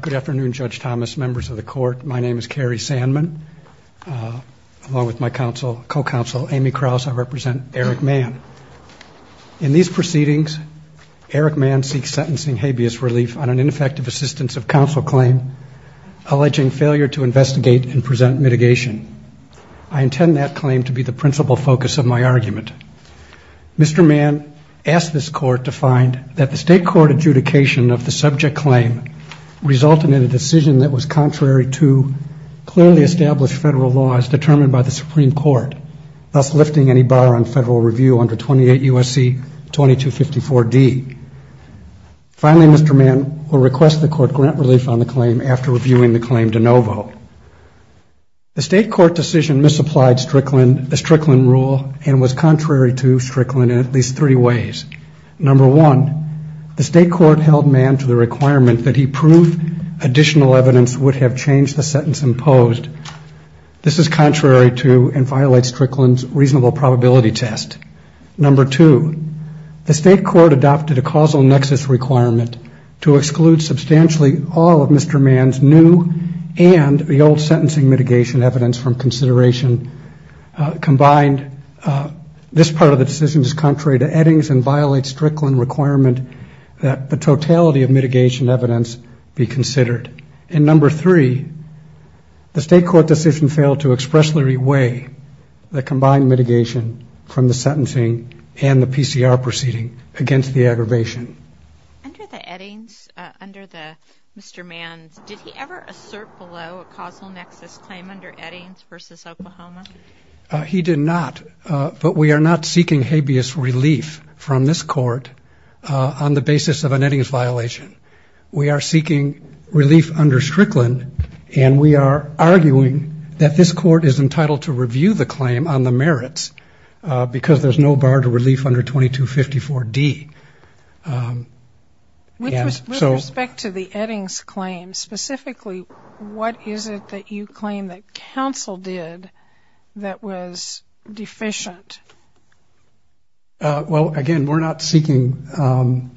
Good afternoon, Judge Thomas, members of the court. My name is Cary Sandman. Along with my counsel, co-counsel Amy Krause, I represent Eric Mann. In these proceedings, Eric Mann seeks sentencing habeas relief on an ineffective assistance of counsel claim alleging failure to investigate and present mitigation. I intend that claim to be the principal focus of my argument. Mr. Mann asked this court to find that the state court adjudication of the subject claim resulted in a decision that was contrary to clearly established federal laws determined by the Supreme Court, thus lifting any bar on federal review under 28 U.S.C. 2254 D. Finally, Mr. Mann will request the court grant relief on the claim after reviewing the claim de novo. The state court decision misapplied Strickland rule and was contrary to Strickland in at least three ways. Number one, the state court held Mann to the requirement that he prove additional evidence would have changed the sentence imposed. This is contrary to and violates Strickland's reasonable probability test. Number two, the state court adopted a causal nexus requirement to exclude substantially all of Mr. Mann's new and the old sentencing mitigation evidence from consideration combined. This part of the decision is contrary to Eddings and violates Strickland requirement that the totality of mitigation evidence be considered. And number three, the state court decision failed to expressly reweigh the combined mitigation from the sentencing and the PCR proceeding against the aggravation. Under the Eddings, under the Mr. Mann's, did he ever assert below a causal nexus claim under Eddings versus Oklahoma? He did not, but we are not seeking habeas relief from this court on the basis of an Eddings violation. We are seeking relief under Strickland, and we are arguing that this court is entitled to review the claim on the merits, because there's no bar to relief under 2254D. With respect to the Eddings claim specifically, what is it that you claim that counsel did that was deficient? Well, again, we're not seeking,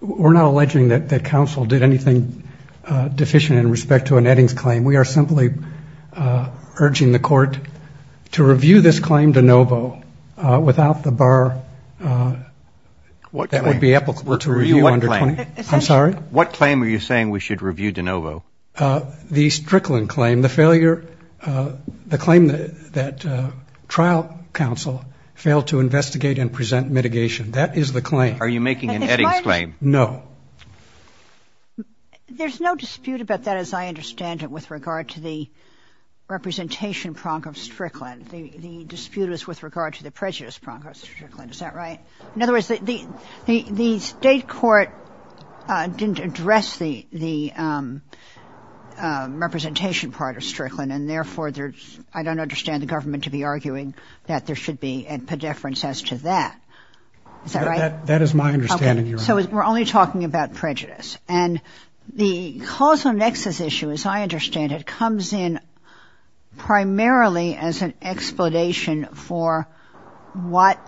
we're not alleging that counsel did anything deficient in respect to an Eddings claim. We are simply urging the court to review this claim de novo without the bar that would be applicable to review under 2254D. I'm sorry? What claim are you saying we should review de novo? The Strickland claim, the failure, the claim that trial counsel failed to investigate and present mitigation. That is the claim. Are you making an Eddings claim? No. There's no dispute about that, as I understand it, with regard to the representation prong of Strickland. The dispute is with regard to the prejudice prong of Strickland, is that right? In other words, the State court didn't address the representation part of Strickland, and therefore I don't understand the government to be arguing that there should be a pedeference as to that. Is that right? That is my understanding, Your Honor. Okay. So we're only talking about prejudice. And the causal nexus issue, as I understand it, comes in primarily as an explanation for what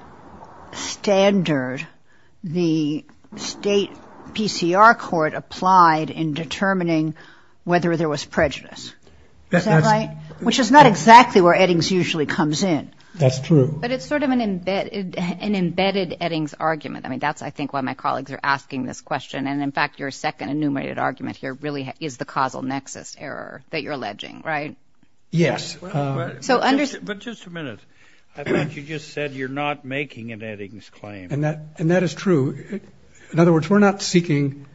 standard the State PCR court applied in determining whether there was prejudice. Is that right? Which is not exactly where Eddings usually comes in. That's true. But it's sort of an embedded Eddings argument. I mean, that's, I think, why my colleagues are asking this question. And, in fact, your second enumerated argument here really is the causal nexus error that you're alleging, right? Yes. But just a minute. I thought you just said you're not making an Eddings claim. And that is true. In other words, we're not seeking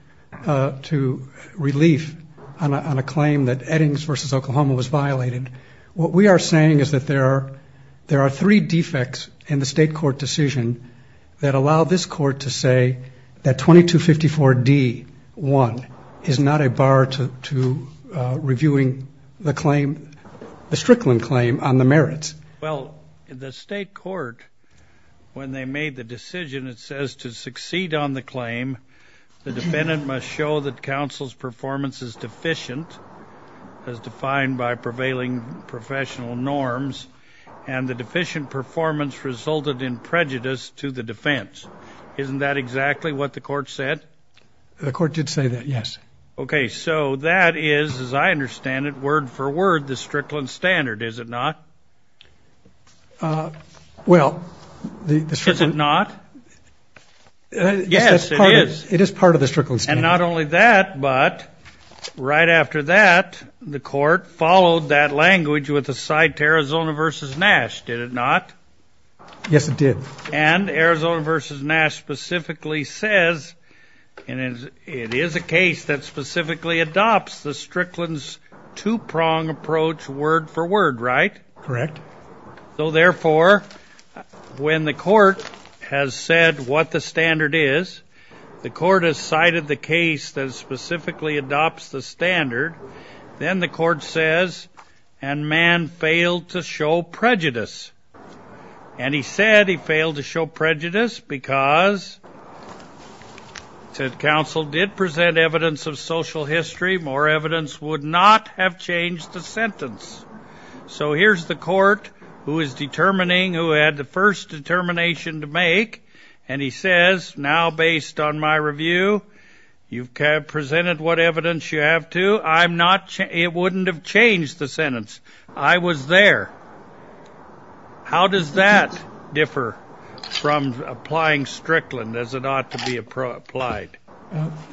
to relief on a claim that Eddings v. Oklahoma was violated. What we are saying is that there are three defects in the State court decision that allow this court to say that 2254D.1 is not a bar to reviewing the claim, the Strickland claim on the merits. Well, the State court, when they made the decision, it says to succeed on the claim, the defendant must show that counsel's performance is deficient, as defined by prevailing professional norms, and the deficient performance resulted in prejudice to the defense. Isn't that exactly what the court said? The court did say that, yes. Okay, so that is, as I understand it, word for word, the Strickland standard, is it not? Well, the Strickland... Is it not? Yes, it is. It is part of the Strickland standard. And not only that, but right after that, the court followed that language with a side to Arizona v. Nash, did it not? Yes, it did. And Arizona v. Nash specifically says it is a case that specifically adopts the Strickland's two-pronged approach word for word, right? Correct. So, therefore, when the court has said what the standard is, the court has cited the case that specifically adopts the standard, then the court says, and man failed to show prejudice. And he said he failed to show prejudice because, he said counsel did present evidence of social history, more evidence would not have changed the sentence. So here's the court who is determining, who had the first determination to make, and he says, now based on my review, you have presented what evidence you have to, it wouldn't have changed the sentence. I was there. How does that differ from applying Strickland as it ought to be applied?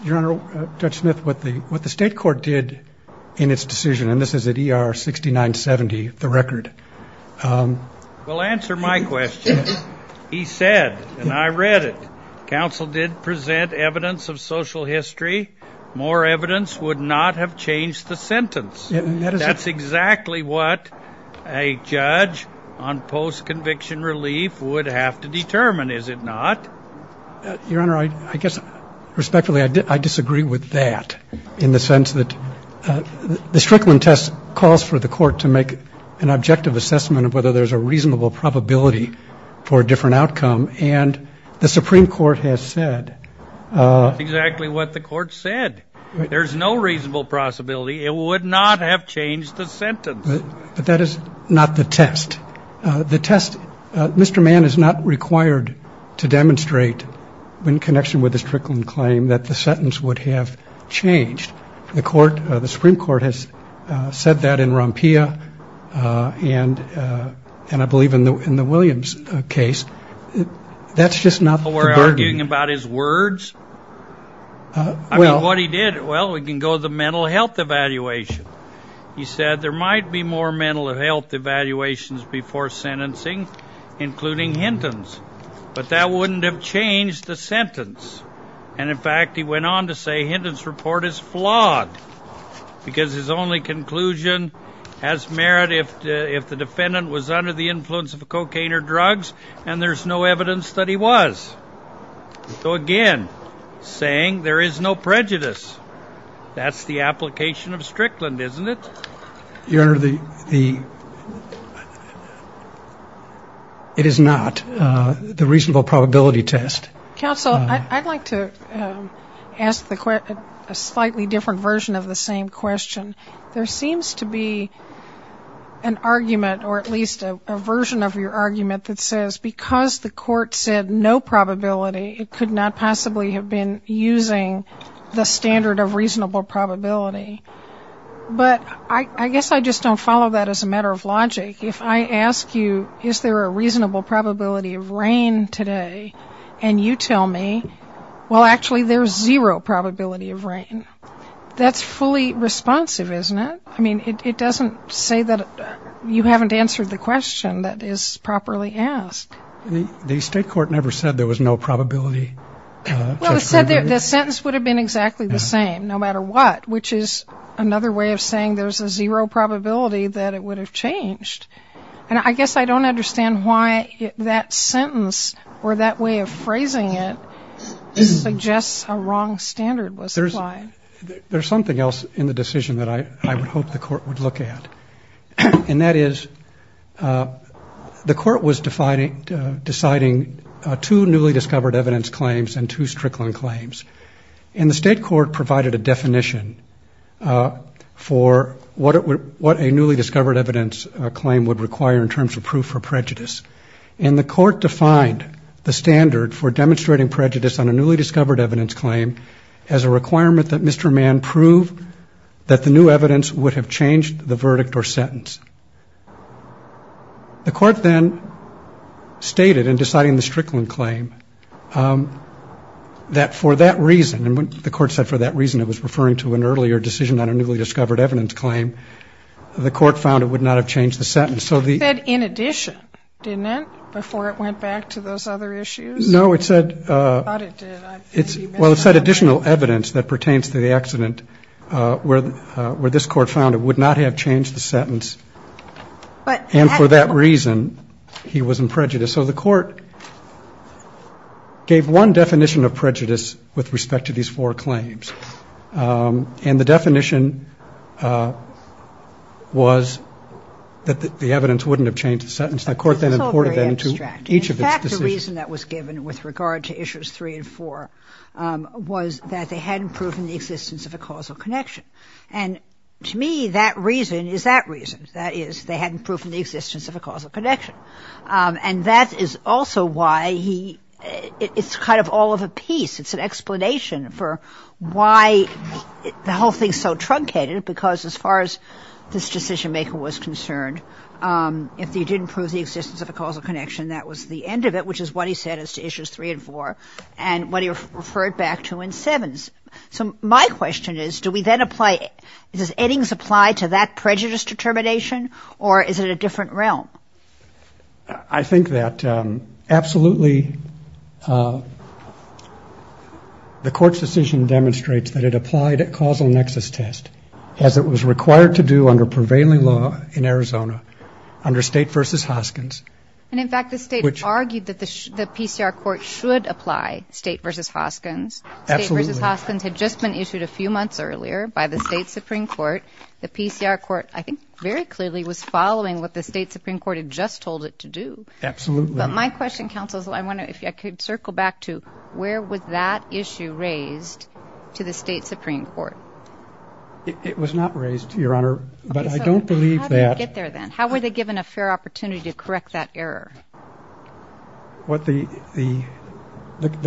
Your Honor, Judge Smith, what the state court did in its decision, and this is at ER 6970, the record... Well, answer my question. He said, and I read it, counsel did present evidence of social history, more evidence would not have changed the sentence. That's exactly what a judge on post-conviction relief would have to determine, is it not? Your Honor, I guess, respectfully, I disagree with that in the sense that the Strickland test calls for the court to make an objective assessment of whether there's a reasonable probability for a different outcome, and the Supreme Court has said... That's exactly what the court said. There's no reasonable possibility it would not have changed the sentence. But that is not the test. The test, Mr. Mann is not required to demonstrate in connection with the Strickland claim that the sentence would have changed. The Supreme Court has said that in Rompia, and I believe in the Williams case. That's just not the burden. We're arguing about his words? I mean, what he did, well, we can go to the mental health evaluation. He said there might be more mental health evaluations before sentencing, including Hinton's. But that wouldn't have changed the sentence. And in fact, he went on to say Hinton's report is flawed. Because his only conclusion has merit if the defendant was under the influence of cocaine or drugs, and there's no evidence that he was. So again, saying there is no prejudice. That's the application of Strickland, isn't it? Your Honor, it is not the reasonable probability test. Counsel, I'd like to ask a slightly different version of the same question. There seems to be an argument, or at least a version of your argument that says because the court said no probability, it could not possibly have been using the standard of reasonable probability. But I guess I just don't follow that as a matter of logic. If I ask you, is there a reasonable probability of rain today, and you tell me, well, actually, there's zero probability of rain. That's fully responsive, isn't it? I mean, it doesn't say that you haven't answered the question that is properly asked. The state court never said there was no probability. Well, it said the sentence would have been exactly the same, no matter what, which is another way of saying there's a zero probability that it would have changed. And I guess I don't understand why that sentence or that way of phrasing it suggests a wrong standard was applied. There's something else in the decision that I would hope the court would look at. And that is the court was deciding two newly discovered evidence claims and two Strickland claims. And the state court provided a definition for what a newly discovered evidence claim would require in terms of proof for prejudice. And the court defined the standard for demonstrating prejudice on a newly discovered evidence claim as a requirement that Mr. Mann prove that the new evidence claim would not have changed the first sentence. The court then stated in deciding the Strickland claim that for that reason, and the court said for that reason it was referring to an earlier decision on a newly discovered evidence claim, the court found it would not have changed the sentence. So the... It said in addition, didn't it, before it went back to those other issues? No, it said... Well, it said additional evidence that pertains to the accident where this court found it would not have changed the sentence. And for that reason, he was in prejudice. So the court gave one definition of prejudice with respect to these four claims. And the definition was that the evidence wouldn't have changed the sentence. The court then imported that into each of its decisions. In fact, the reason that was given with regard to issues three and four was that they hadn't proven the existence of a causal connection. And to me, that reason is that reason. That is, they hadn't proven the existence of a causal connection. And that is also why he... It's kind of all of a piece. It's an explanation for why the whole thing is so truncated, because as far as this decision-maker was concerned, if they didn't prove the existence of a causal connection, that was the end of it, which is what he said as to issues three and four, and what he referred back to in sevens. So my question is, does Eddings apply to that prejudice determination, or is it a different realm? I think that absolutely the court's decision demonstrates that it applied a causal nexus test, as it was required to do under prevailing law in Arizona under State v. Hoskins. And in fact, the State argued that the PCR court should apply State v. Hoskins. State v. Hoskins had just been issued a few months earlier by the State Supreme Court. The PCR court, I think, very clearly was following what the State Supreme Court had just told it to do. Absolutely. But my question, counsel, is I wonder if I could circle back to where was that issue raised to the State Supreme Court? It was not raised, Your Honor, but I don't believe that ---- How did it get there, then? How were they given a fair opportunity to correct that error? The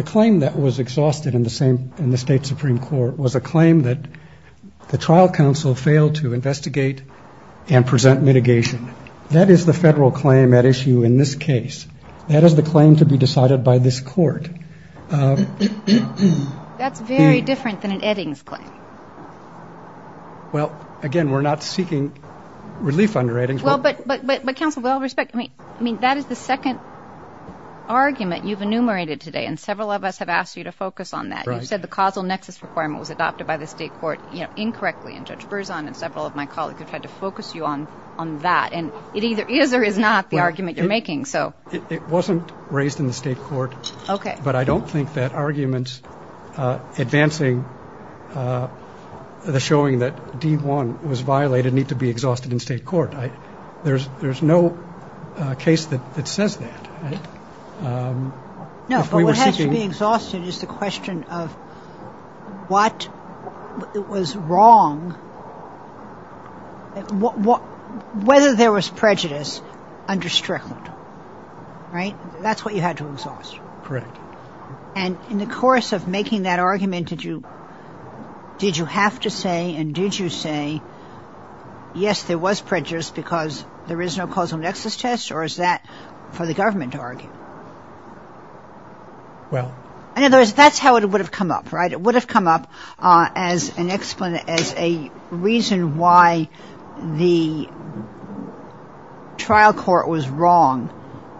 claim that was exhausted in the State Supreme Court was a claim that the trial counsel failed to investigate and present mitigation. That is the Federal claim at issue in this case. That is the claim to be decided by this court. That's very different than an Eddings claim. Well, again, we're not seeking relief under Eddings. But, counsel, with all respect, that is the second argument you've enumerated today, and several of us have asked you to focus on that. You said the causal nexus requirement was adopted by the state court incorrectly, and Judge Berzon and several of my colleagues have tried to focus you on that. And it either is or is not the argument you're making. It wasn't raised in the state court, but I don't think that arguments advancing the showing that D-1 was violated need to be exhausted in state court. There's no case that says that. No, but what has to be exhausted is the question of what was wrong, whether there was prejudice under Strickland. Right? That's what you had to exhaust. Correct. And in the course of making that argument, did you have to say, and did you say, yes, there was prejudice because there is no causal nexus test, or is that for the government to argue? In other words, that's how it would have come up, right? It would have come up as a reason why the trial court was wrong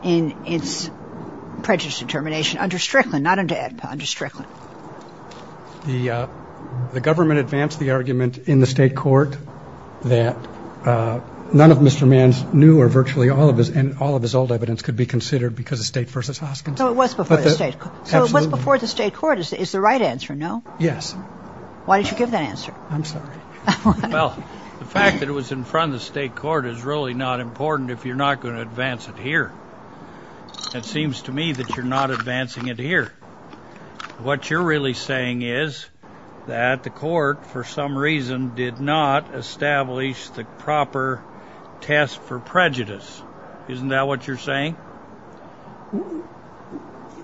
in its prejudice determination under Strickland. The government advanced the argument in the state court that none of Mr. Mann's new or virtually all of his old evidence could be considered because of state versus Hoskinson. So it was before the state court. So it was before the state court is the right answer, no? Yes. Why did you give that answer? I'm sorry. Well, the fact that it was in front of the state court is really not important if you're not going to advance it here. It seems to me that you're not advancing it here. What you're really saying is that the court, for some reason, did not establish the proper test for prejudice. Isn't that what you're saying?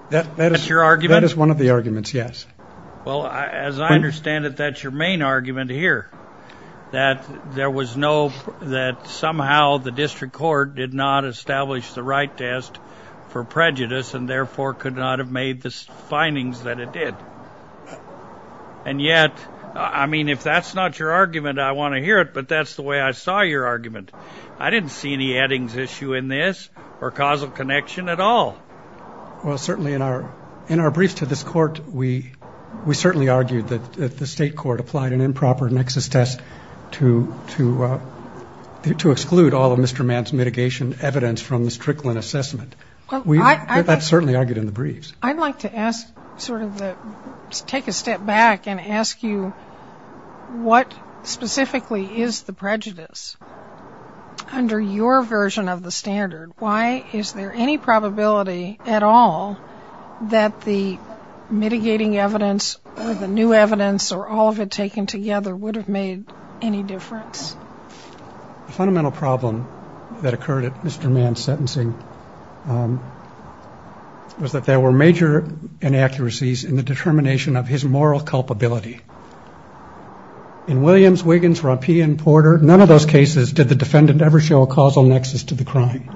That is one of the arguments, yes. Well, as I understand it, that's your main argument here. That somehow the district court did not establish the right test for prejudice and therefore could not have made the findings that it did. And yet, I mean, if that's not your argument, I want to hear it, but that's the way I saw your argument. I didn't see any addings issue in this or causal connection at all. Well, certainly in our brief to this court, we certainly argued that the state court applied an improper nexus test to exclude all of Mr. Mann's mitigation evidence from the Strickland assessment. That's certainly argued in the briefs. I'd like to ask sort of the, take a step back and ask you, what specifically is the prejudice? Under your version of the standard, why is there any probability at all that the mitigating evidence or the new evidence or all of it taken together would have made any difference? The fundamental problem that occurred at Mr. Mann's sentencing was that there were major differences in the standard. Major inaccuracies in the determination of his moral culpability. In Williams, Wiggins, Rompey, and Porter, none of those cases did the defendant ever show a causal nexus to the crime.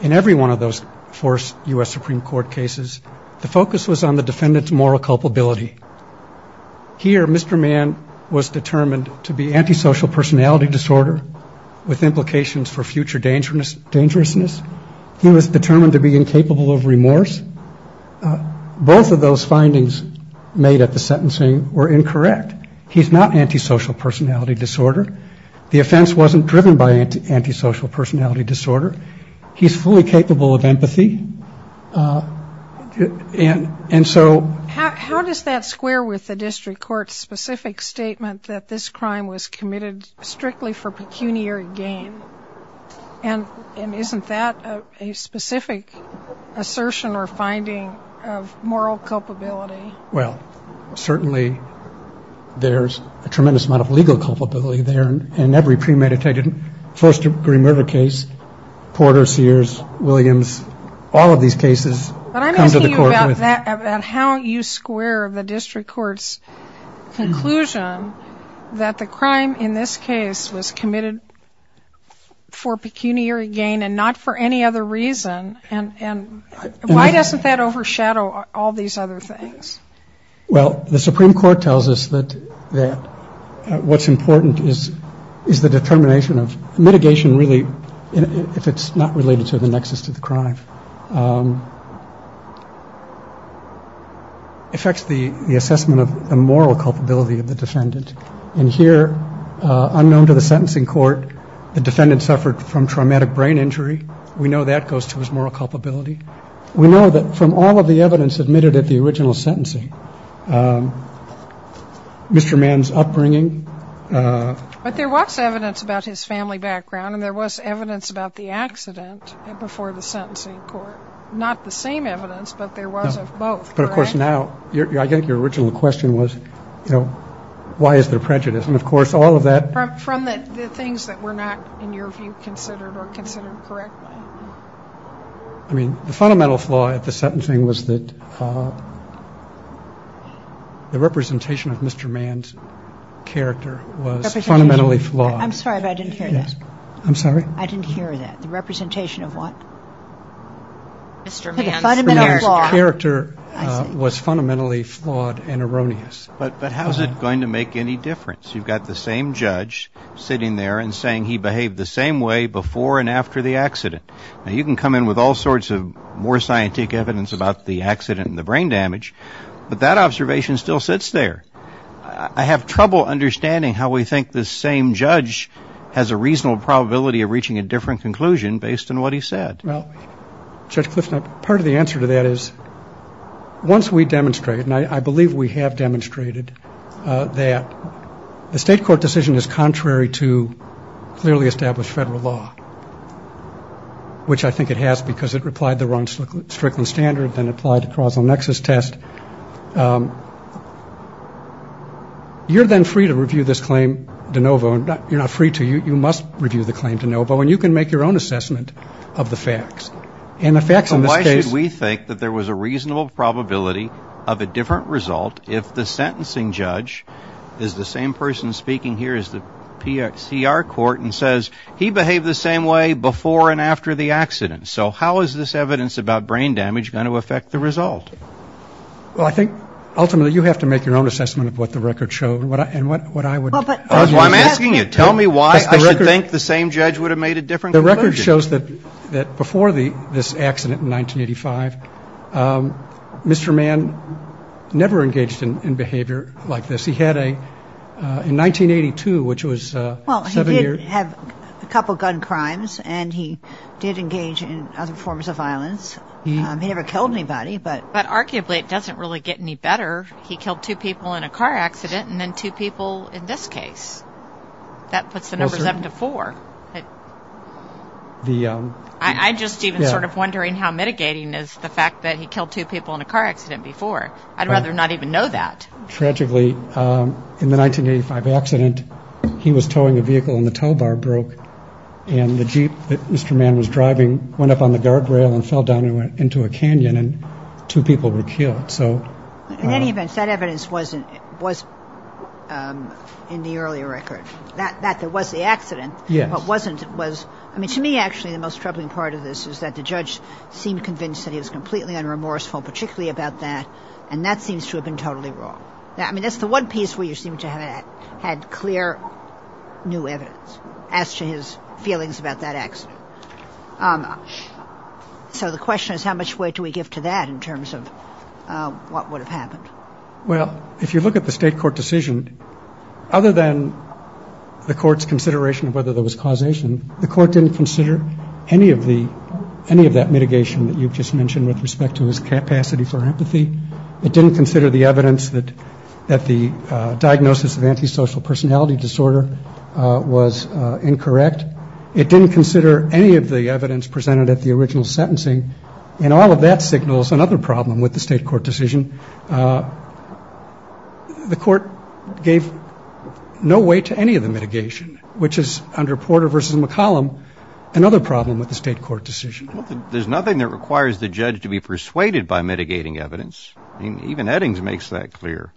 In every one of those four U.S. Supreme Court cases, the focus was on the defendant's moral culpability. Here, Mr. Mann was determined to be antisocial personality disorder with implications for future dangerousness. He was determined to be incapable of remorse. Both of those findings made at the sentencing were incorrect. He's not antisocial personality disorder. The offense wasn't driven by antisocial personality disorder. He's fully capable of empathy. How does that square with the district court's specific statement that this crime was committed strictly for pecuniary gain? And isn't that a specific assertion or finding of moral culpability? Well, certainly there's a tremendous amount of legal culpability there. And in every premeditated first-degree murder case, Porter, Sears, Williams, all of these cases come to the court with... But I'm asking you about that, about how you square the district court's conclusion that the crime in this case was committed for pecuniary gain and not for any other reason. And why doesn't that overshadow all these other things? Well, the Supreme Court tells us that what's important is the determination of... Mitigation really, if it's not related to the nexus to the crime, affects the assessment of the moral culpability of the defendant. And here, unknown to the sentencing court, the defendant suffered from traumatic brain injury. We know that goes to his moral culpability. We know that from all of the evidence admitted at the original sentencing, Mr. Mann's upbringing... But there was evidence about his family background, and there was evidence about the accident before the sentencing court. Not the same evidence, but there was of both, correct? And now, I think your original question was, you know, why is there prejudice? And, of course, all of that... From the things that were not, in your view, considered or considered correctly. I mean, the fundamental flaw at the sentencing was that the representation of Mr. Mann's character was fundamentally flawed. I'm sorry, but I didn't hear that. The representation of what? Mr. Mann's character was fundamentally flawed and erroneous. But how is it going to make any difference? You've got the same judge sitting there and saying he behaved the same way before and after the accident. Now, you can come in with all sorts of more scientific evidence about the accident and the brain damage, but that observation still sits there. I have trouble understanding how we think the same judge has a reasonable probability of reaching a different conclusion based on what he said. Well, Judge Clifton, part of the answer to that is, once we demonstrate, and I believe we have demonstrated, that the state court decision is contrary to clearly established federal law, which I think it has because it replied the wrong Strickland standard, then applied to carousel nexus test, you're then free to review this claim de novo. You're not free to. You must review the claim de novo, and you can make your own assessment of the facts. Why should we think that there was a reasonable probability of a different result if the sentencing judge is the same person speaking here as the PRCR court and says, he behaved the same way before and after the accident? So how is this evidence about brain damage going to affect the result? Well, I think ultimately you have to make your own assessment of what the record showed and what I would argue. I'm asking you, tell me why I would think the same judge would have made a different conclusion. The record shows that before this accident in 1985, Mr. Mann never engaged in behavior like this. He had a, in 1982, which was seven years. Well, he did have a couple of gun crimes, and he did engage in other forms of violence. He never killed anybody. But arguably it doesn't really get any better. He killed two people in a car accident and then two people in this case. That puts the numbers up to four. I'm just even sort of wondering how mitigating is the fact that he killed two people in a car accident before. I'd rather not even know that. Tragically, in the 1985 accident, he was towing a vehicle and the tow bar broke. And the Jeep that Mr. Mann was driving went up on the guardrail and fell down into a canyon and two people were killed. In any event, that evidence was in the earlier record, that there was the accident. To me, actually, the most troubling part of this is that the judge seemed convinced that he was completely unremorseful, particularly about that, and that seems to have been totally wrong. I mean, that's the one piece where you seem to have had clear new evidence as to his feelings about that accident. So the question is, how much weight do we give to that in terms of what would have happened? Well, if you look at the state court decision, other than the court's consideration of whether there was causation, the court didn't consider any of that mitigation that you've just mentioned with respect to his capacity for empathy. It didn't consider the evidence that the diagnosis of antisocial personality disorder was incorrect. And yet it didn't consider any of the evidence presented at the original sentencing. And all of that signals another problem with the state court decision. The court gave no weight to any of the mitigation, which is, under Porter v. McCollum, another problem with the state court decision. There's nothing that requires the judge to be persuaded by mitigating evidence. I mean, even Eddings makes that clear.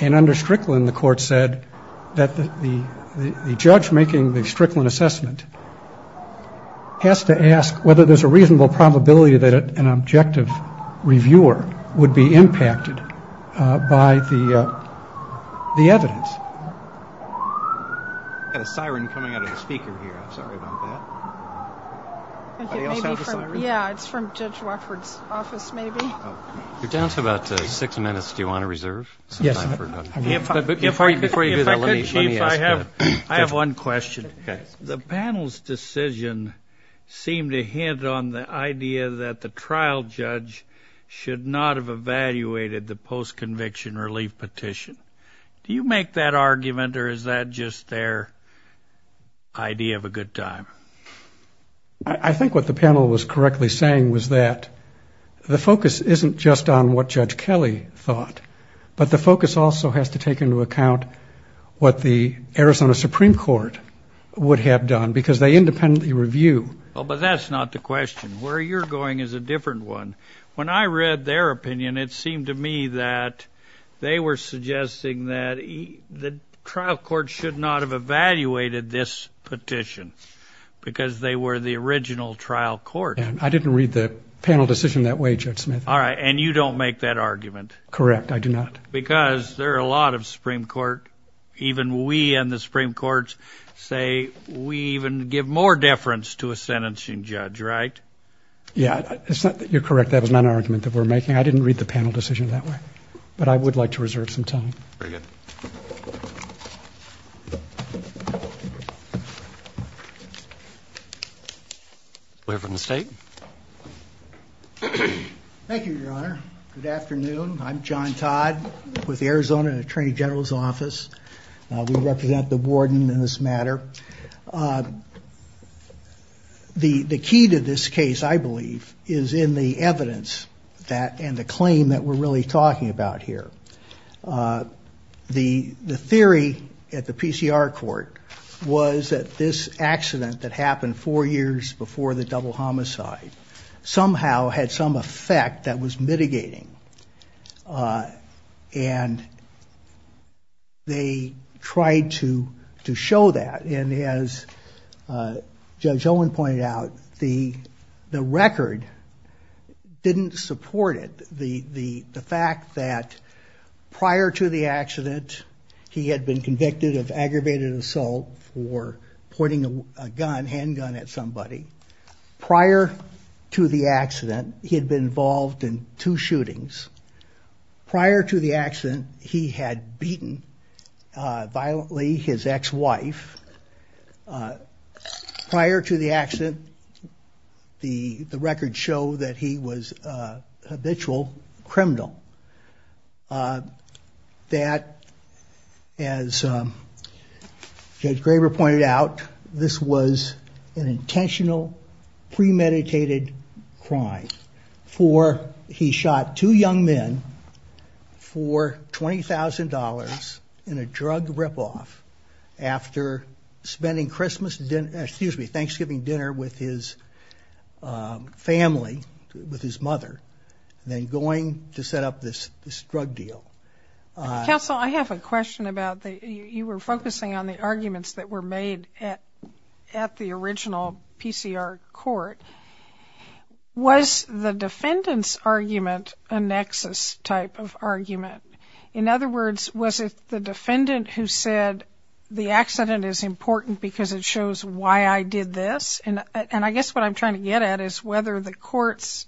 And under Strickland, the court said that the judge making the Strickland assessment has to ask whether there's a reasonable probability that an objective reviewer would be impacted by the evidence. I've got a siren coming out of the speaker here. I'm sorry about that. Yeah, it's from Judge Watford's office, maybe. You're down to about six minutes. Do you want to reserve? I have one question. The panel's decision seemed to hint on the idea that the trial judge should not have evaluated the post-conviction relief petition. Do you make that argument, or is that just their idea of a good time? I think what the panel was correctly saying was that the focus isn't just on what Judge Kelly thought, but the focus also has to take into account what the Arizona Supreme Court would have done, because they independently review. Well, but that's not the question. Where you're going is a different one. I'm just suggesting that the trial court should not have evaluated this petition, because they were the original trial court. I didn't read the panel decision that way, Judge Smith. All right, and you don't make that argument. Correct, I do not. Because there are a lot of Supreme Court, even we in the Supreme Court say we even give more deference to a sentencing judge, right? Very good. We'll hear from the State. Thank you, Your Honor. Good afternoon. I'm John Todd with the Arizona Attorney General's Office. We represent the warden in this matter. The key to this case, I believe, is in the evidence and the claim that we're really talking about here. The theory at the PCR court was that this accident that happened four years before the double homicide somehow had some effect that was mitigating. And they tried to show that. And as Judge Owen pointed out, the record didn't support it. The fact that prior to the accident, he had been convicted of aggravated assault for pointing a handgun at somebody. Prior to the accident, he had been involved in two shootings. Prior to the accident, he had beaten violently his ex-wife. Prior to the accident, the records show that he was a habitual criminal. That, as Judge Graber pointed out, this was an intentional assault. This was an intentional, premeditated crime. He shot two young men for $20,000 in a drug rip-off after spending Thanksgiving dinner with his family, with his mother, then going to set up this drug deal. Sotomayor, I have a question about the you were focusing on the arguments that were made at the original PCR court. Was the defendant's argument a nexus type of argument? In other words, was it the defendant who said the accident is important because it shows why I did this? And I guess what I'm trying to get at is whether the court's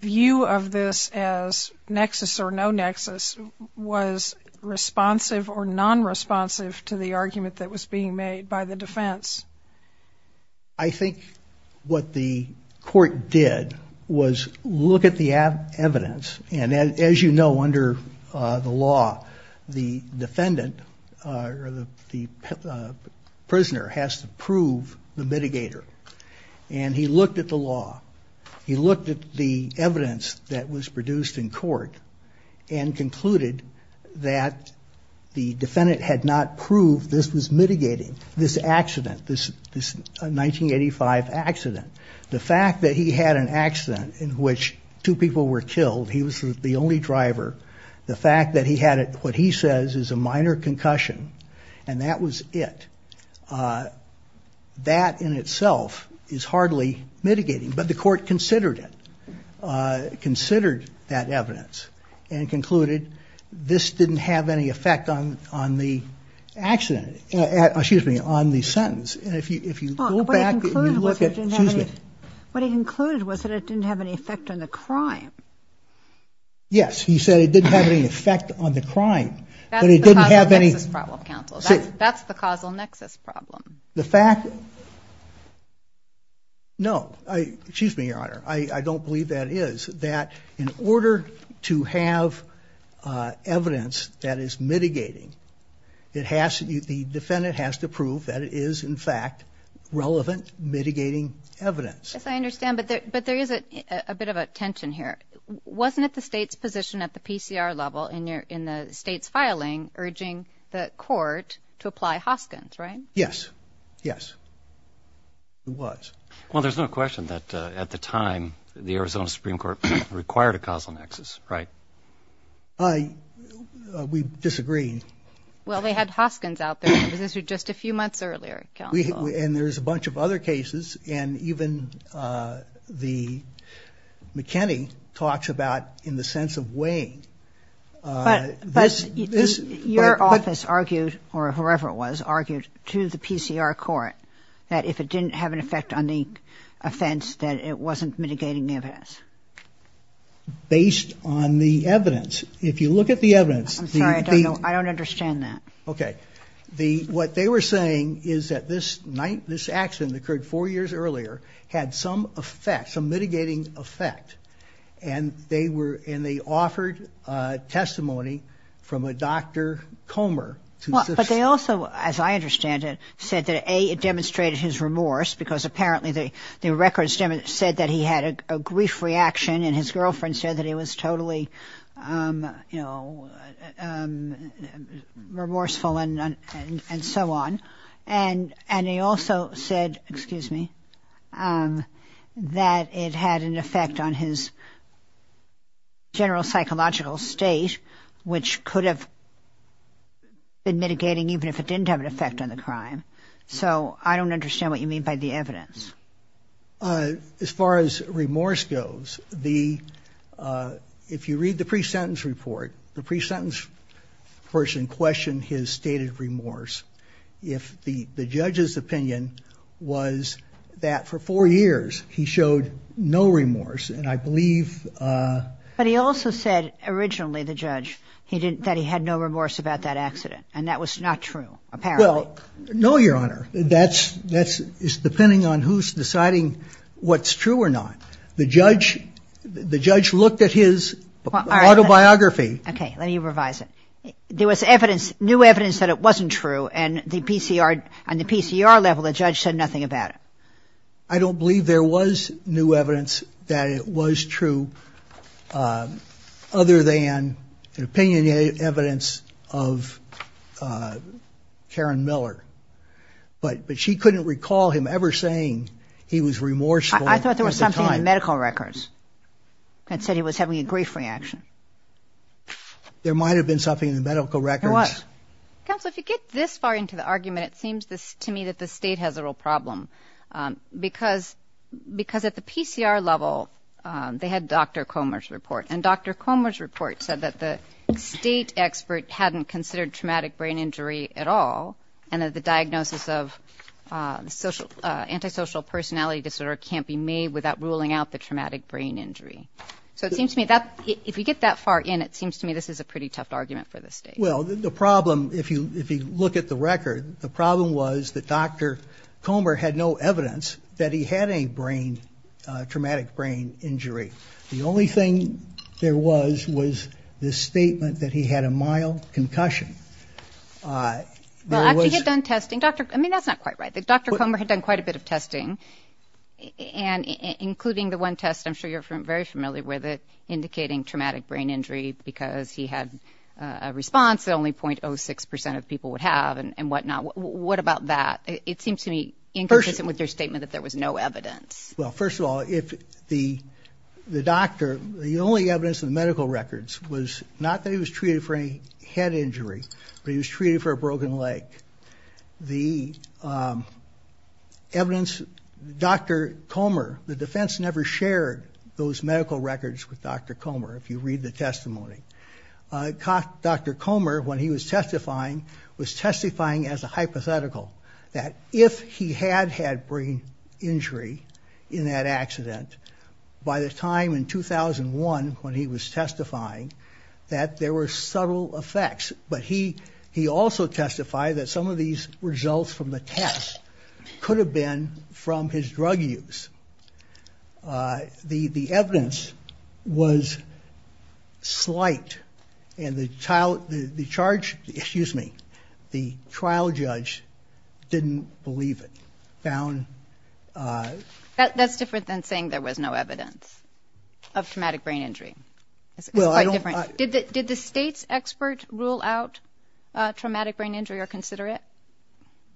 view of this as nexus or no nexus. Was responsive or non-responsive to the argument that was being made by the defense? I think what the court did was look at the evidence. And as you know, under the law, the defendant or the prisoner has to prove the mitigator. And he looked at the law. He looked at the evidence that was produced in court. And concluded that the defendant had not proved this was mitigating this accident, this 1985 accident. The fact that he had an accident in which two people were killed, he was the only driver. The fact that he had what he says is a minor concussion, and that was it. That in itself is hardly mitigating, but the court considered it. Considered that evidence and concluded this didn't have any effect on the accident. Excuse me, on the sentence. What he concluded was that it didn't have any effect on the crime. Yes, he said it didn't have any effect on the crime. That's the causal nexus problem. No, excuse me, Your Honor, I don't believe that is. That in order to have evidence that is mitigating, the defendant has to prove that it is, in fact, relevant mitigating evidence. Yes, I understand, but there is a bit of a tension here. Wasn't it the state's position at the PCR level in the state's filing urging the court to apply Hoskins, right? Yes, yes, it was. Well, there's no question that at the time the Arizona Supreme Court required a causal nexus, right? We disagreed. Well, they had Hoskins out there. It was just a few months earlier, counsel. And there's a bunch of other cases, and even the McKinney talks about in the sense of weighing. But your office argued, or whoever it was, argued to the PCR court that if it didn't have an effect on the offense, that it wasn't mitigating evidence. Based on the evidence. If you look at the evidence. I'm sorry, I don't understand that. Okay. What they were saying is that this night, this accident occurred four years earlier, had some effect, some mitigating effect. And they offered testimony from a Dr. Comer. Well, but they also, as I understand it, said that, A, it demonstrated his remorse, because apparently the records said that he had a grief reaction. And his girlfriend said that he was totally, you know, remorseful and so on. And they also said, excuse me, that it had an effect on his general psychological state, which could have been mitigating evidence. So I don't understand what you mean by the evidence. As far as remorse goes, the, if you read the pre-sentence report, the pre-sentence person questioned his stated remorse. If the judge's opinion was that for four years he showed no remorse, and I believe. But he also said originally, the judge, he didn't, that he had no remorse about that accident, and that was not true, apparently. Well, no, Your Honor. That's, that's, it's depending on who's deciding what's true or not. The judge, the judge looked at his autobiography. Okay, let me revise it. There was evidence, new evidence that it wasn't true, and the PCR, on the PCR level, the judge said nothing about it. I don't believe there was new evidence that it was true, other than opinionated evidence of Karen Miller. But she couldn't recall him ever saying he was remorseful. I thought there was something in the medical records that said he was having a grief reaction. There might have been something in the medical records. There was. Counsel, if you get this far into the argument, it seems to me that the State has a real problem, because, because at the PCR level, they had Dr. Comer's report, and Dr. Comer's report said that the State expert hadn't considered traumatic brain injury at all, and that the diagnosis of social, antisocial personality disorder can't be made without ruling out the traumatic brain injury. So it seems to me that, if you get that far in, it seems to me this is a pretty tough argument for the State. Well, the problem, if you, if you look at the record, the problem was that Dr. Comer had no evidence that he had any brain, traumatic brain injury. The only thing there was, was the statement that he had a mild concussion. Well, after he had done testing, Dr., I mean, that's not quite right. Dr. Comer had done quite a bit of testing, and including the one test, I'm sure you're very familiar with it, indicating traumatic brain injury, because he had a response that only .06 percent of people would have and whatnot. What about that? It seems to me inconsistent with your statement that there was no evidence. Well, first of all, if the, the doctor, the only evidence in the medical records was not that he was treated for any head injury, but he was treated for a broken leg. The evidence, Dr. Comer, the defense never shared those medical records with Dr. Comer, if you read the testimony. Dr. Comer, when he was testifying, was testifying as a hypothetical, that if he had had brain injury, he would have been treated for a broken leg. In that accident, by the time in 2001, when he was testifying, that there were subtle effects. But he, he also testified that some of these results from the test could have been from his drug use. The, the evidence was slight, and the trial, the charge, excuse me, the trial judge didn't believe it. That's different than saying there was no evidence of traumatic brain injury. It's quite different. Did the, did the state's expert rule out traumatic brain injury or consider it?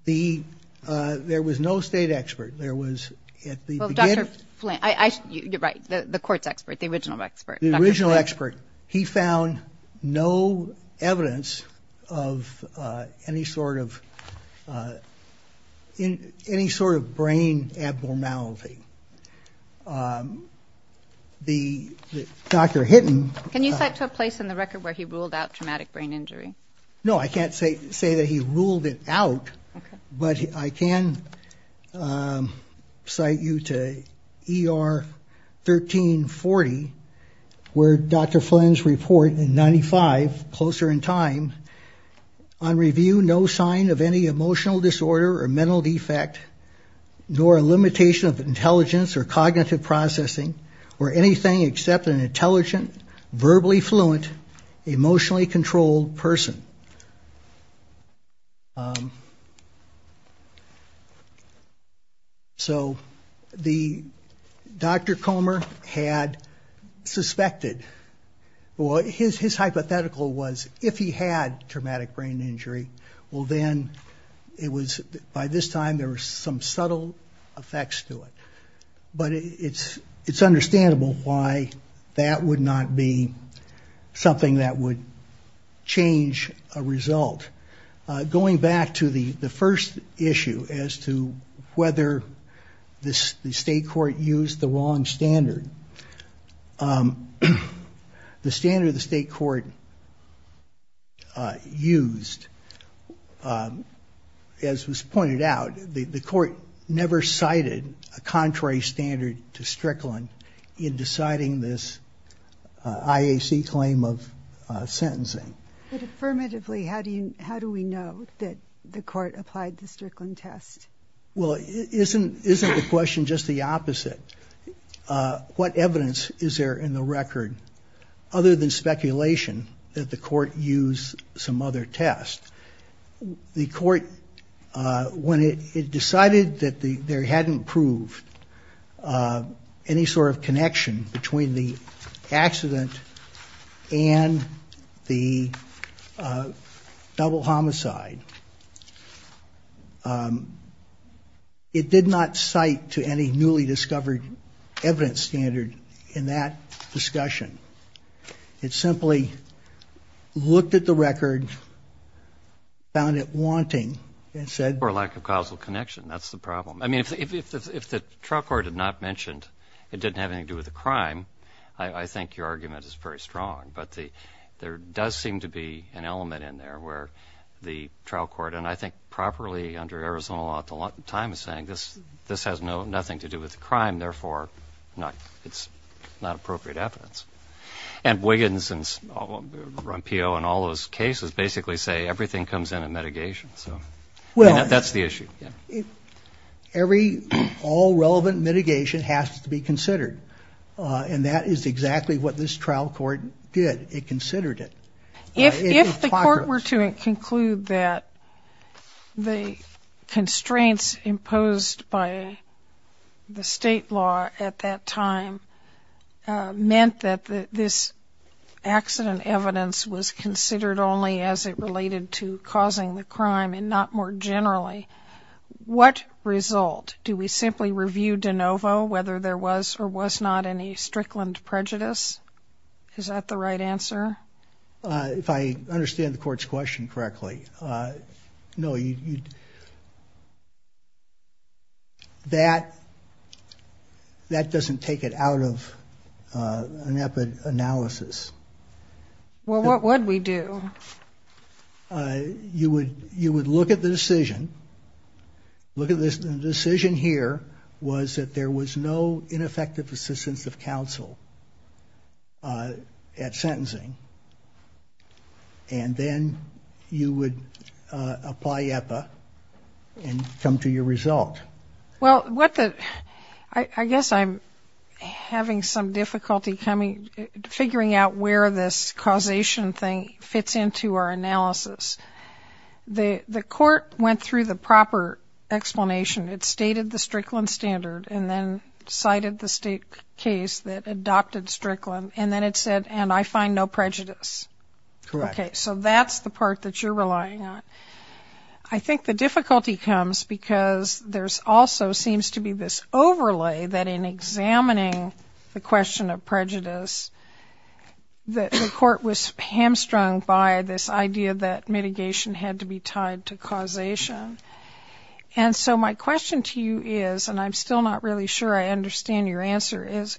The, there was no state expert. There was, at the beginning. Well, Dr. Flint, I, I, you're right, the court's expert, the original expert. He found no evidence of any sort of, any sort of brain abnormality. The, Dr. Hinton. Can you cite to a place in the record where he ruled out traumatic brain injury? No, I can't say, say that he ruled it out. But I can cite you to ER 1340, where Dr. Flint's report in 95, closer in time, on review, no sign of any emotional disorder or mental defect, nor a limitation of intelligence or cognitive processing, or anything except an intelligent, verbally fluent, emotionally controlled person. So the, Dr. Comer had suspected. Well, his, his hypothetical was, if he had traumatic brain injury, well then, it was, by this time, there were some subtle effects to it. But it's, it's understandable why that would not be something that would change a result. Going back to the, the first issue as to whether this, the state court used the wrong standard. The standard the state court used, as was pointed out, the, the court never cited a contrary standard. To Strickland in deciding this IAC claim of sentencing. But affirmatively, how do you, how do we know that the court applied the Strickland test? Well, isn't, isn't the question just the opposite? What evidence is there in the record, other than speculation, that the court used some other test? The court, when it, it decided that the, there hadn't proved any sort of connection between the accident and the double homicide. It did not cite to any newly discovered evidence standard in that discussion. It simply looked at the record, found it wanting, and said. Or lack of causal connection, that's the problem. I mean, if, if, if the trial court had not mentioned it didn't have anything to do with the crime, I, I think your argument is very strong. But the, there does seem to be an element in there where the trial court, and I think properly under Arizona law at the time, is saying this, this has no, nothing to do with the crime. And therefore, not, it's not appropriate evidence. And Wiggins and Rompillo and all those cases basically say everything comes in a mitigation, so. Well. That's the issue. Every, all relevant mitigation has to be considered. And that is exactly what this trial court did. It considered it. If, if the court were to conclude that the constraints imposed by the state law at that time meant that this accident evidence was considered only as it related to causing the crime and not more generally, what result? Do we simply review de novo whether there was or was not any strickland prejudice? Is that the right answer? If I understand the court's question correctly. No. That, that doesn't take it out of an analysis. Well, what would we do? You would, you would look at the decision. Look at this, the decision here was that there was no ineffective assistance of counsel at sentencing. And then you would apply EPA and come to your result. Well, what the, I guess I'm having some difficulty coming, figuring out where this causation thing fits into our analysis. The, the court went through the proper explanation. It stated the strickland standard and then cited the state case that adopted strickland. And then it said, and I find no prejudice. Okay. So that's the part that you're relying on. I think the difficulty comes because there's also seems to be this overlay that in examining the question of prejudice, that the court was hamstrung by this idea that, you know, there's no prejudice. And that mitigation had to be tied to causation. And so my question to you is, and I'm still not really sure I understand your answer, is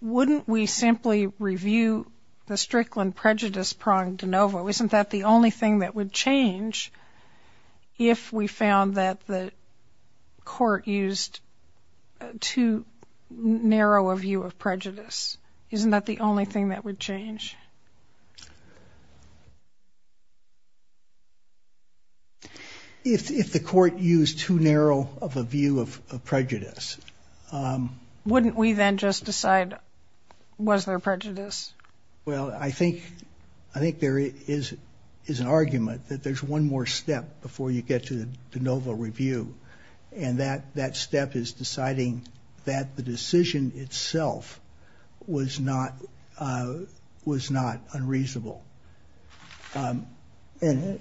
wouldn't we simply review the strickland prejudice prong de novo? Isn't that the only thing that would change if we found that the court used too narrow a view of prejudice? Isn't that the only thing that would change? If the court used too narrow of a view of prejudice. Wouldn't we then just decide, was there prejudice? Well, I think, I think there is, is an argument that there's one more step before you get to the de novo review. And that, that step is deciding that the decision itself was not, was not unreasonable. And...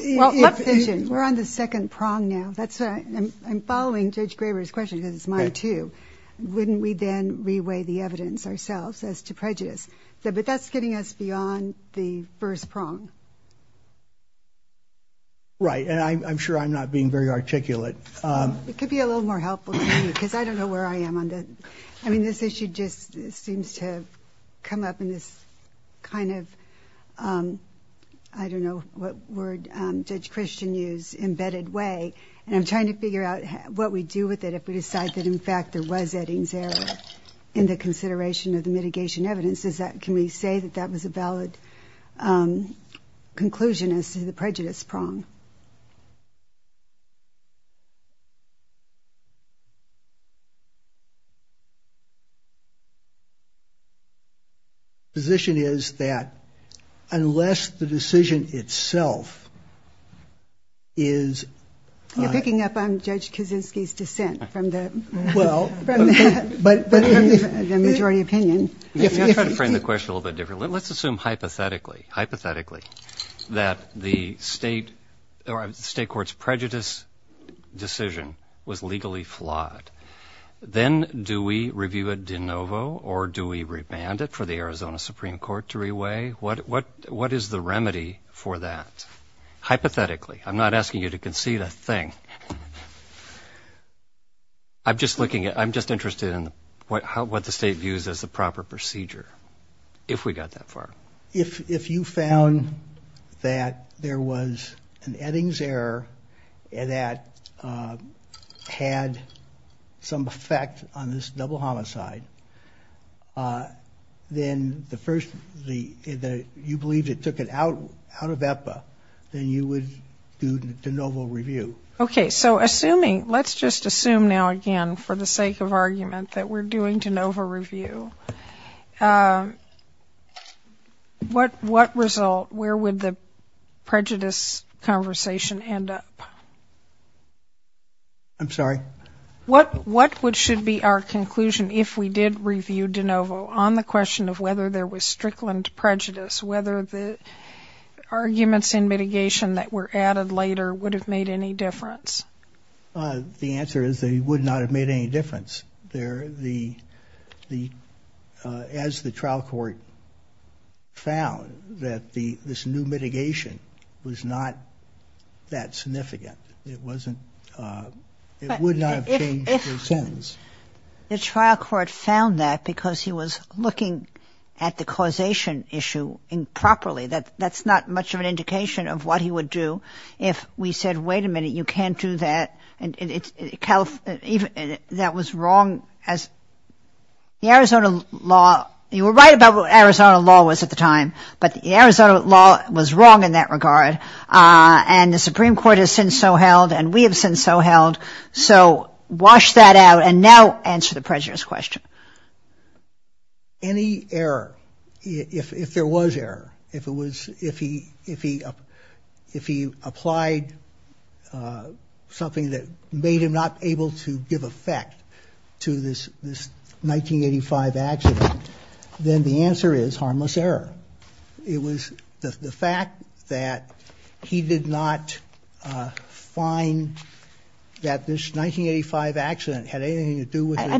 We're on the second prong now. I'm following Judge Graber's question because it's mine too. Wouldn't we then reweigh the evidence ourselves as to prejudice? But that's getting us beyond the first prong. Right. And I'm sure I'm not being very articulate. It could be a little more helpful to you because I don't know where I am on that. I mean, this issue just seems to have come up in this kind of, I don't know what word Judge Christian used, embedded way. And I'm trying to figure out what we do with it if we decide that, in fact, there was Eddings error in the consideration of the mitigation evidence. Is that, can we say that that was a valid conclusion as to the prejudice prong? The position is that unless the decision itself is... You're picking up on Judge Kuczynski's dissent from the majority opinion. Let's try to frame the question a little bit differently. Let's assume hypothetically, hypothetically, that the state or state court's prejudice decision was legally flawed. Do we review it de novo or do we revand it for the Arizona Supreme Court to reweigh? What is the remedy for that? Hypothetically. I'm not asking you to concede a thing. I'm just looking at, I'm just interested in what the state views as the proper procedure. If we got that far. If you found that there was an Eddings error that had some effect on this double standard, a double homicide, then the first, you believe it took it out of EPA, then you would do de novo review. Okay, so assuming, let's just assume now again for the sake of argument that we're doing de novo review. What result, where would the prejudice conversation end up? I'm sorry? What should be our conclusion if we did review de novo on the question of whether there was strickland prejudice, whether the arguments in mitigation that were added later would have made any difference? The answer is they would not have made any difference. As the trial court found that this new mitigation was not that significant. It wasn't, it would not have changed the sentence. The trial court found that because he was looking at the causation issue improperly. That's not much of an indication of what he would do if we said, wait a minute, you can't do that. And that was wrong as the Arizona law, you were right about what Arizona law was at the time. But the Arizona law was wrong in that regard. And the Supreme Court has since so held and we have since so held. So wash that out and now answer the prejudice question. Any error, if there was error, if it was, if he applied something that made him not able to give effect to this 1985 accident, then the answer is harmless error. But it was the fact that he did not find that this 1985 accident had anything to do with it.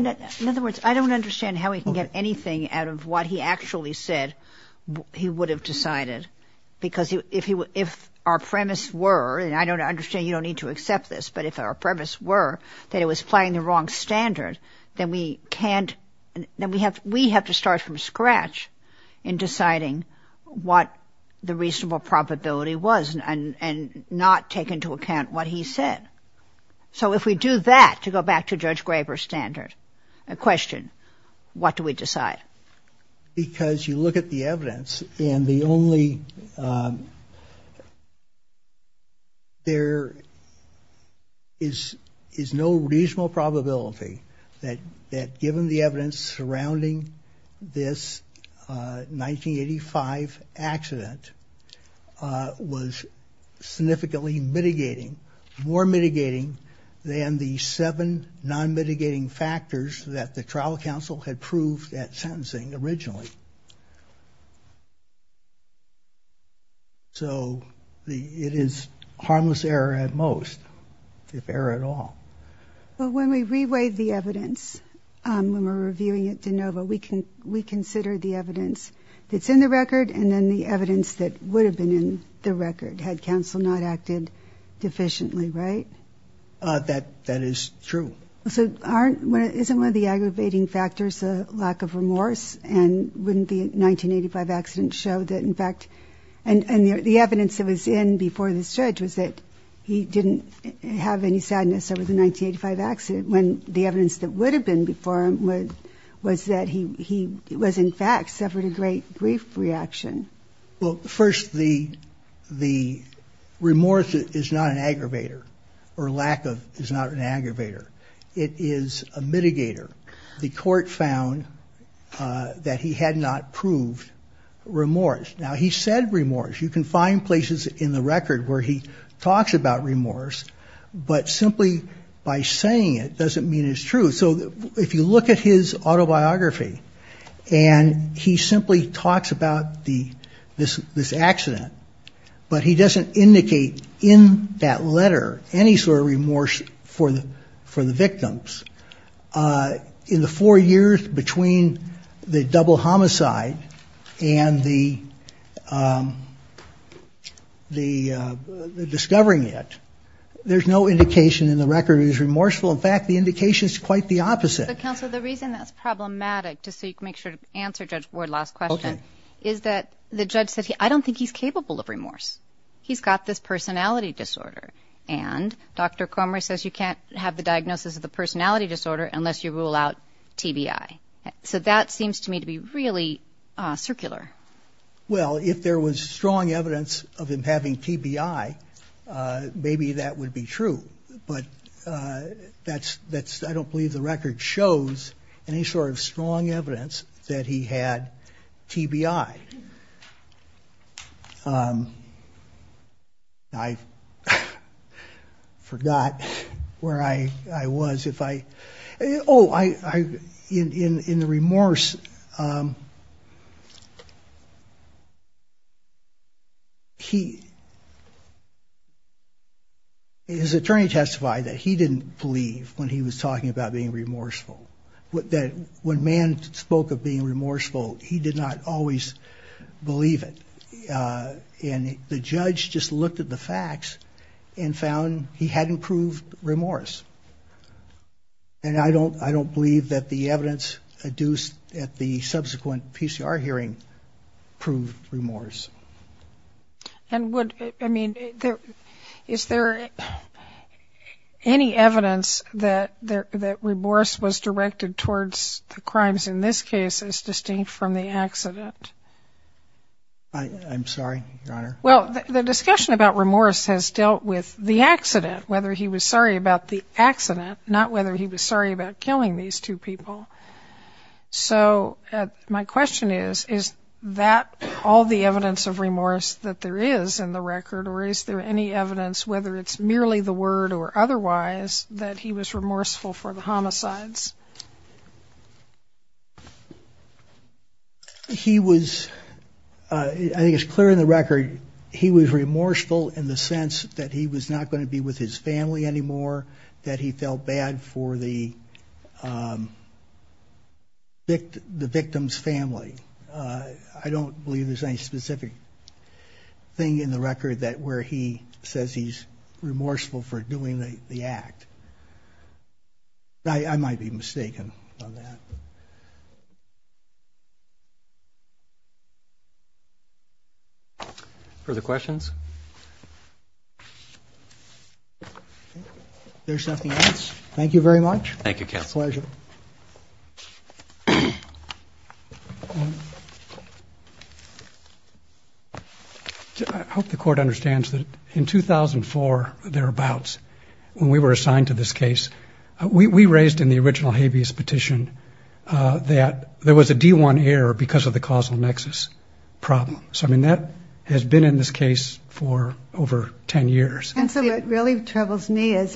In other words, I don't understand how we can get anything out of what he actually said he would have decided. Because if he would, if our premise were, and I don't understand, you don't need to accept this, but if our premise were that it was playing the wrong standard, then we can't, then we have to start from scratch in deciding what the reasonable probability was and not take into account what he said. So if we do that, to go back to Judge Graber's standard, a question, what do we decide? Because you look at the evidence and the only, there is no reasonable probability that given the evidence, the evidence surrounding this 1985 accident was significantly mitigating, more mitigating than the seven non-mitigating factors that the trial counsel had proved at sentencing originally. So it is harmless error at most, if error at all. Well, when we re-weighed the evidence, when we were reviewing at DeNova, we considered the evidence that's in the record and then the evidence that would have been in the record had counsel not acted deficiently, right? That is true. So aren't, isn't one of the aggravating factors a lack of remorse and wouldn't the 1985 accident show that in fact, and the evidence that was in before this judge was that he didn't have any sadness over the 1985 accident, when the evidence that would have been before him was that he was in fact suffered a great grief reaction? Well, first the remorse is not an aggravator or lack of is not an aggravator. It is a mitigator. The court found that he had not proved remorse. Now he said remorse. You can find places in the record where he talks about remorse, but simply by saying it doesn't mean it's true. So if you look at his autobiography, and he simply talks about the, this, this accident, but he doesn't indicate in that letter any sort of remorse for the victims. In the four years between the double homicide and the, you know, the accident, the discovering it, there's no indication in the record it is remorseful. In fact, the indication is quite the opposite. But, Counselor, the reason that's problematic, just so you can make sure to answer Judge Ward's last question, is that the judge said, I don't think he's capable of remorse. He's got this personality disorder. And Dr. Comrie says you can't have the diagnosis of the personality disorder unless you rule out TBI. So that seems to me to be really circular. Well, if there was strong evidence of him having TBI, maybe that would be true. But that's, that's, I don't believe the record shows any sort of strong evidence that he had TBI. I forgot where I, I was, if I, oh, I, I, in, in the remorse, he, his attorney testified that he didn't believe when he was talking about being remorseful. That when man spoke of being remorseful, he did not always believe it. And the judge just looked at the facts and found he hadn't proved remorse. And I don't, I don't believe that the evidence adduced at the subsequent PCR hearing, proved remorse. And would, I mean, is there any evidence that remorse was directed towards the crimes in this case as distinct from the accident? I'm sorry, Your Honor. Well, the discussion about remorse has dealt with the accident, whether he was sorry about the accident, not whether he was sorry about killing these two people. So my question is, is that all the evidence of remorse that there is in the record? Or is there any evidence, whether it's merely the word or otherwise, that he was remorseful for the homicides? He was, I think it's clear in the record, he was remorseful in the sense that he was not going to be with his family anymore, that he felt bad for the victim's family. I don't believe there's any specific thing in the record that where he says he's remorseful for doing the act. I might be mistaken on that. Further questions? There's nothing else. Thank you very much. Thank you, counsel. It's a pleasure. I hope the Court understands that in 2004 or thereabouts, when we were assigned to this case, we raised in the original habeas petition that there was a D1 error because of the causal nexus problem. And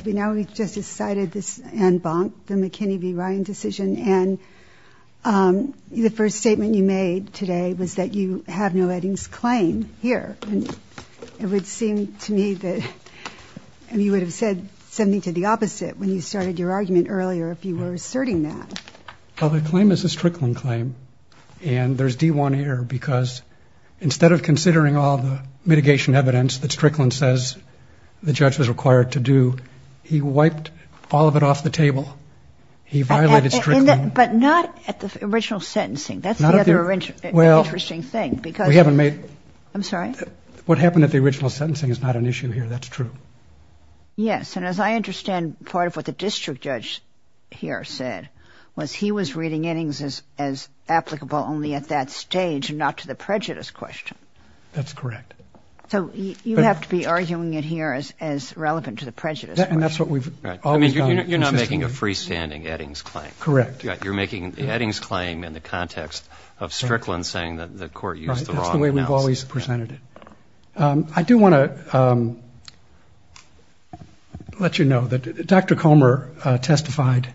we just decided this, Ann Bonk, the McKinney v. Ryan decision. And the first statement you made today was that you have no Eddings claim here. And it would seem to me that you would have said something to the opposite when you started your argument earlier, if you were asserting that. Well, the claim is a Strickland claim. And there's D1 error because instead of considering all the mitigation evidence that Strickland says the judge was required to do, he walked away. He wiped all of it off the table. He violated Strickland. But not at the original sentencing. That's the other interesting thing. Well, we haven't made... I'm sorry? What happened at the original sentencing is not an issue here. That's true. Yes. And as I understand, part of what the district judge here said was he was reading Eddings as applicable only at that stage and not to the prejudice question. That's correct. So you have to be arguing it here as relevant to the prejudice question. And that's what we've always done. Right. I mean, you're not making a freestanding Eddings claim. Correct. You're making the Eddings claim in the context of Strickland saying that the court used the wrong analysis. Right. That's the way we've always presented it. I do want to let you know that Dr. Comer testified.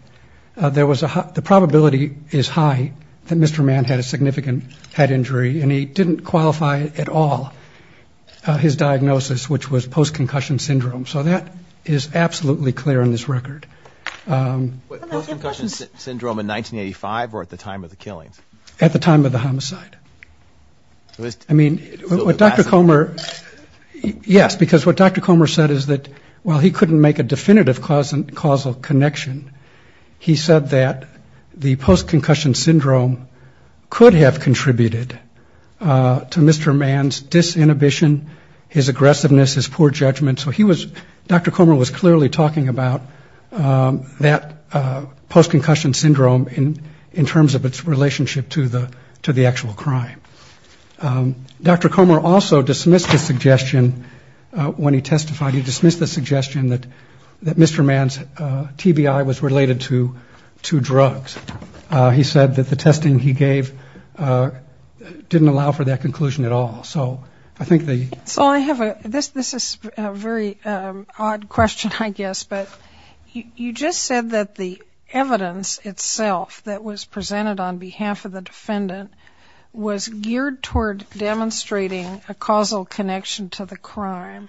There was a high ‑‑ the probability is high that Mr. Mann had a significant head injury. And he didn't qualify at all his diagnosis, which was post-concussion syndrome. So that is absolutely clear on this record. Post-concussion syndrome in 1985 or at the time of the killings? At the time of the homicide. I mean, what Dr. Comer ‑‑ yes, because what Dr. Comer said is that while he couldn't make a definitive causal connection, he said that the post-concussion syndrome could have contributed to Mr. Mann's disinhibition, his aggressiveness, his poor judgment. So he was ‑‑ Dr. Comer was clearly talking about that post-concussion syndrome in terms of its relationship to the actual crime. Dr. Comer also dismissed the suggestion when he testified, he dismissed the suggestion that Mr. Mann's TBI was related to drugs. He said that the testing he gave didn't allow for that conclusion at all. So I think the ‑‑ So I have a ‑‑ this is a very odd question, I guess. But you just said that the evidence itself that was presented on behalf of the defendant was geared toward demonstrating a causal connection to the crime.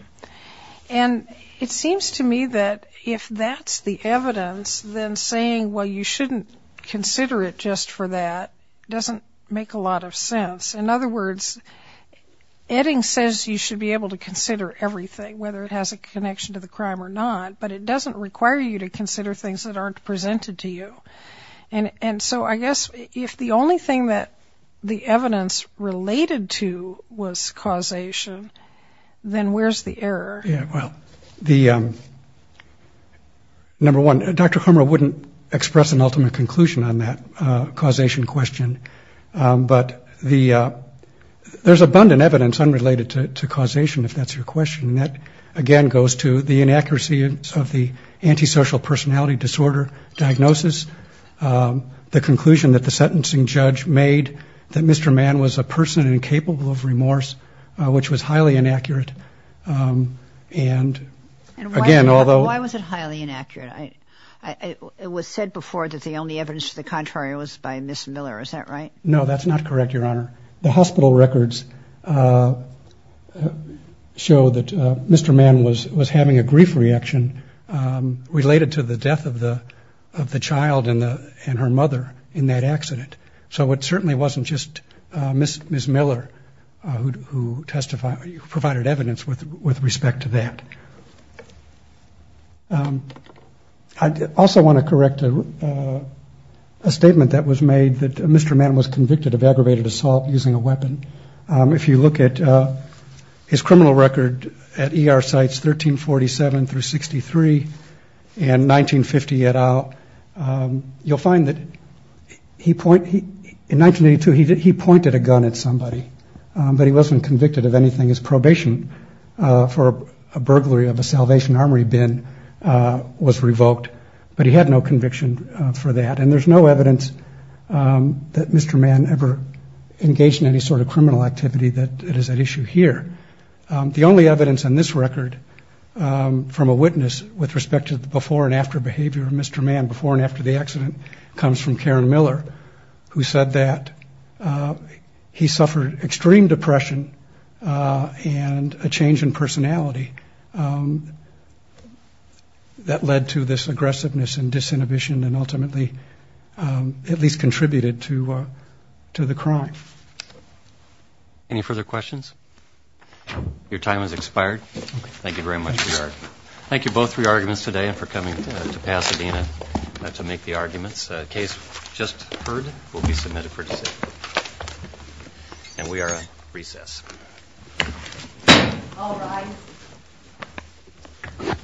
And it seems to me that if that's the evidence, then saying, well, you shouldn't do this, you shouldn't do that, that's not true. And to consider it just for that doesn't make a lot of sense. In other words, Edding says you should be able to consider everything, whether it has a connection to the crime or not. But it doesn't require you to consider things that aren't presented to you. And so I guess if the only thing that the evidence related to was causation, then where's the error? Yeah, well, the ‑‑ number one, Dr. Comer wouldn't express an ultimate conclusion about it. I'm not going to comment on that causation question. But the ‑‑ there's abundant evidence unrelated to causation, if that's your question. And that, again, goes to the inaccuracies of the antisocial personality disorder diagnosis. The conclusion that the sentencing judge made that Mr. Mann was a person incapable of remorse, which was highly inaccurate. And, again, although ‑‑ The contrary was by Ms. Miller, is that right? No, that's not correct, Your Honor. The hospital records show that Mr. Mann was having a grief reaction related to the death of the child and her mother in that accident. So it certainly wasn't just Ms. Miller who provided evidence with respect to that. I also want to correct a statement that was made that Mr. Mann was convicted of aggravated assault using a weapon. If you look at his criminal record at ER sites 1347 through 63 and 1950 and out, you'll find that he pointed ‑‑ in 1982, he pointed a gun at somebody. But he wasn't convicted of anything. His probation for a burglary of a Salvation Armory bin was revoked. But he had no conviction for that. And there's no evidence that Mr. Mann ever engaged in any sort of criminal activity that is at issue here. The only evidence on this record from a witness with respect to the before and after behavior of Mr. Mann, before and after the accident, comes from Karen Miller, who said that he suffered extreme depression. And a change in personality that led to this aggressiveness and disinhibition and ultimately at least contributed to the crime. Any further questions? Your time has expired. Thank you very much for your argument. Thank you both for your arguments today and for coming to Pasadena to make the arguments. Case just heard will be submitted for decision. And we are at recess. All rise.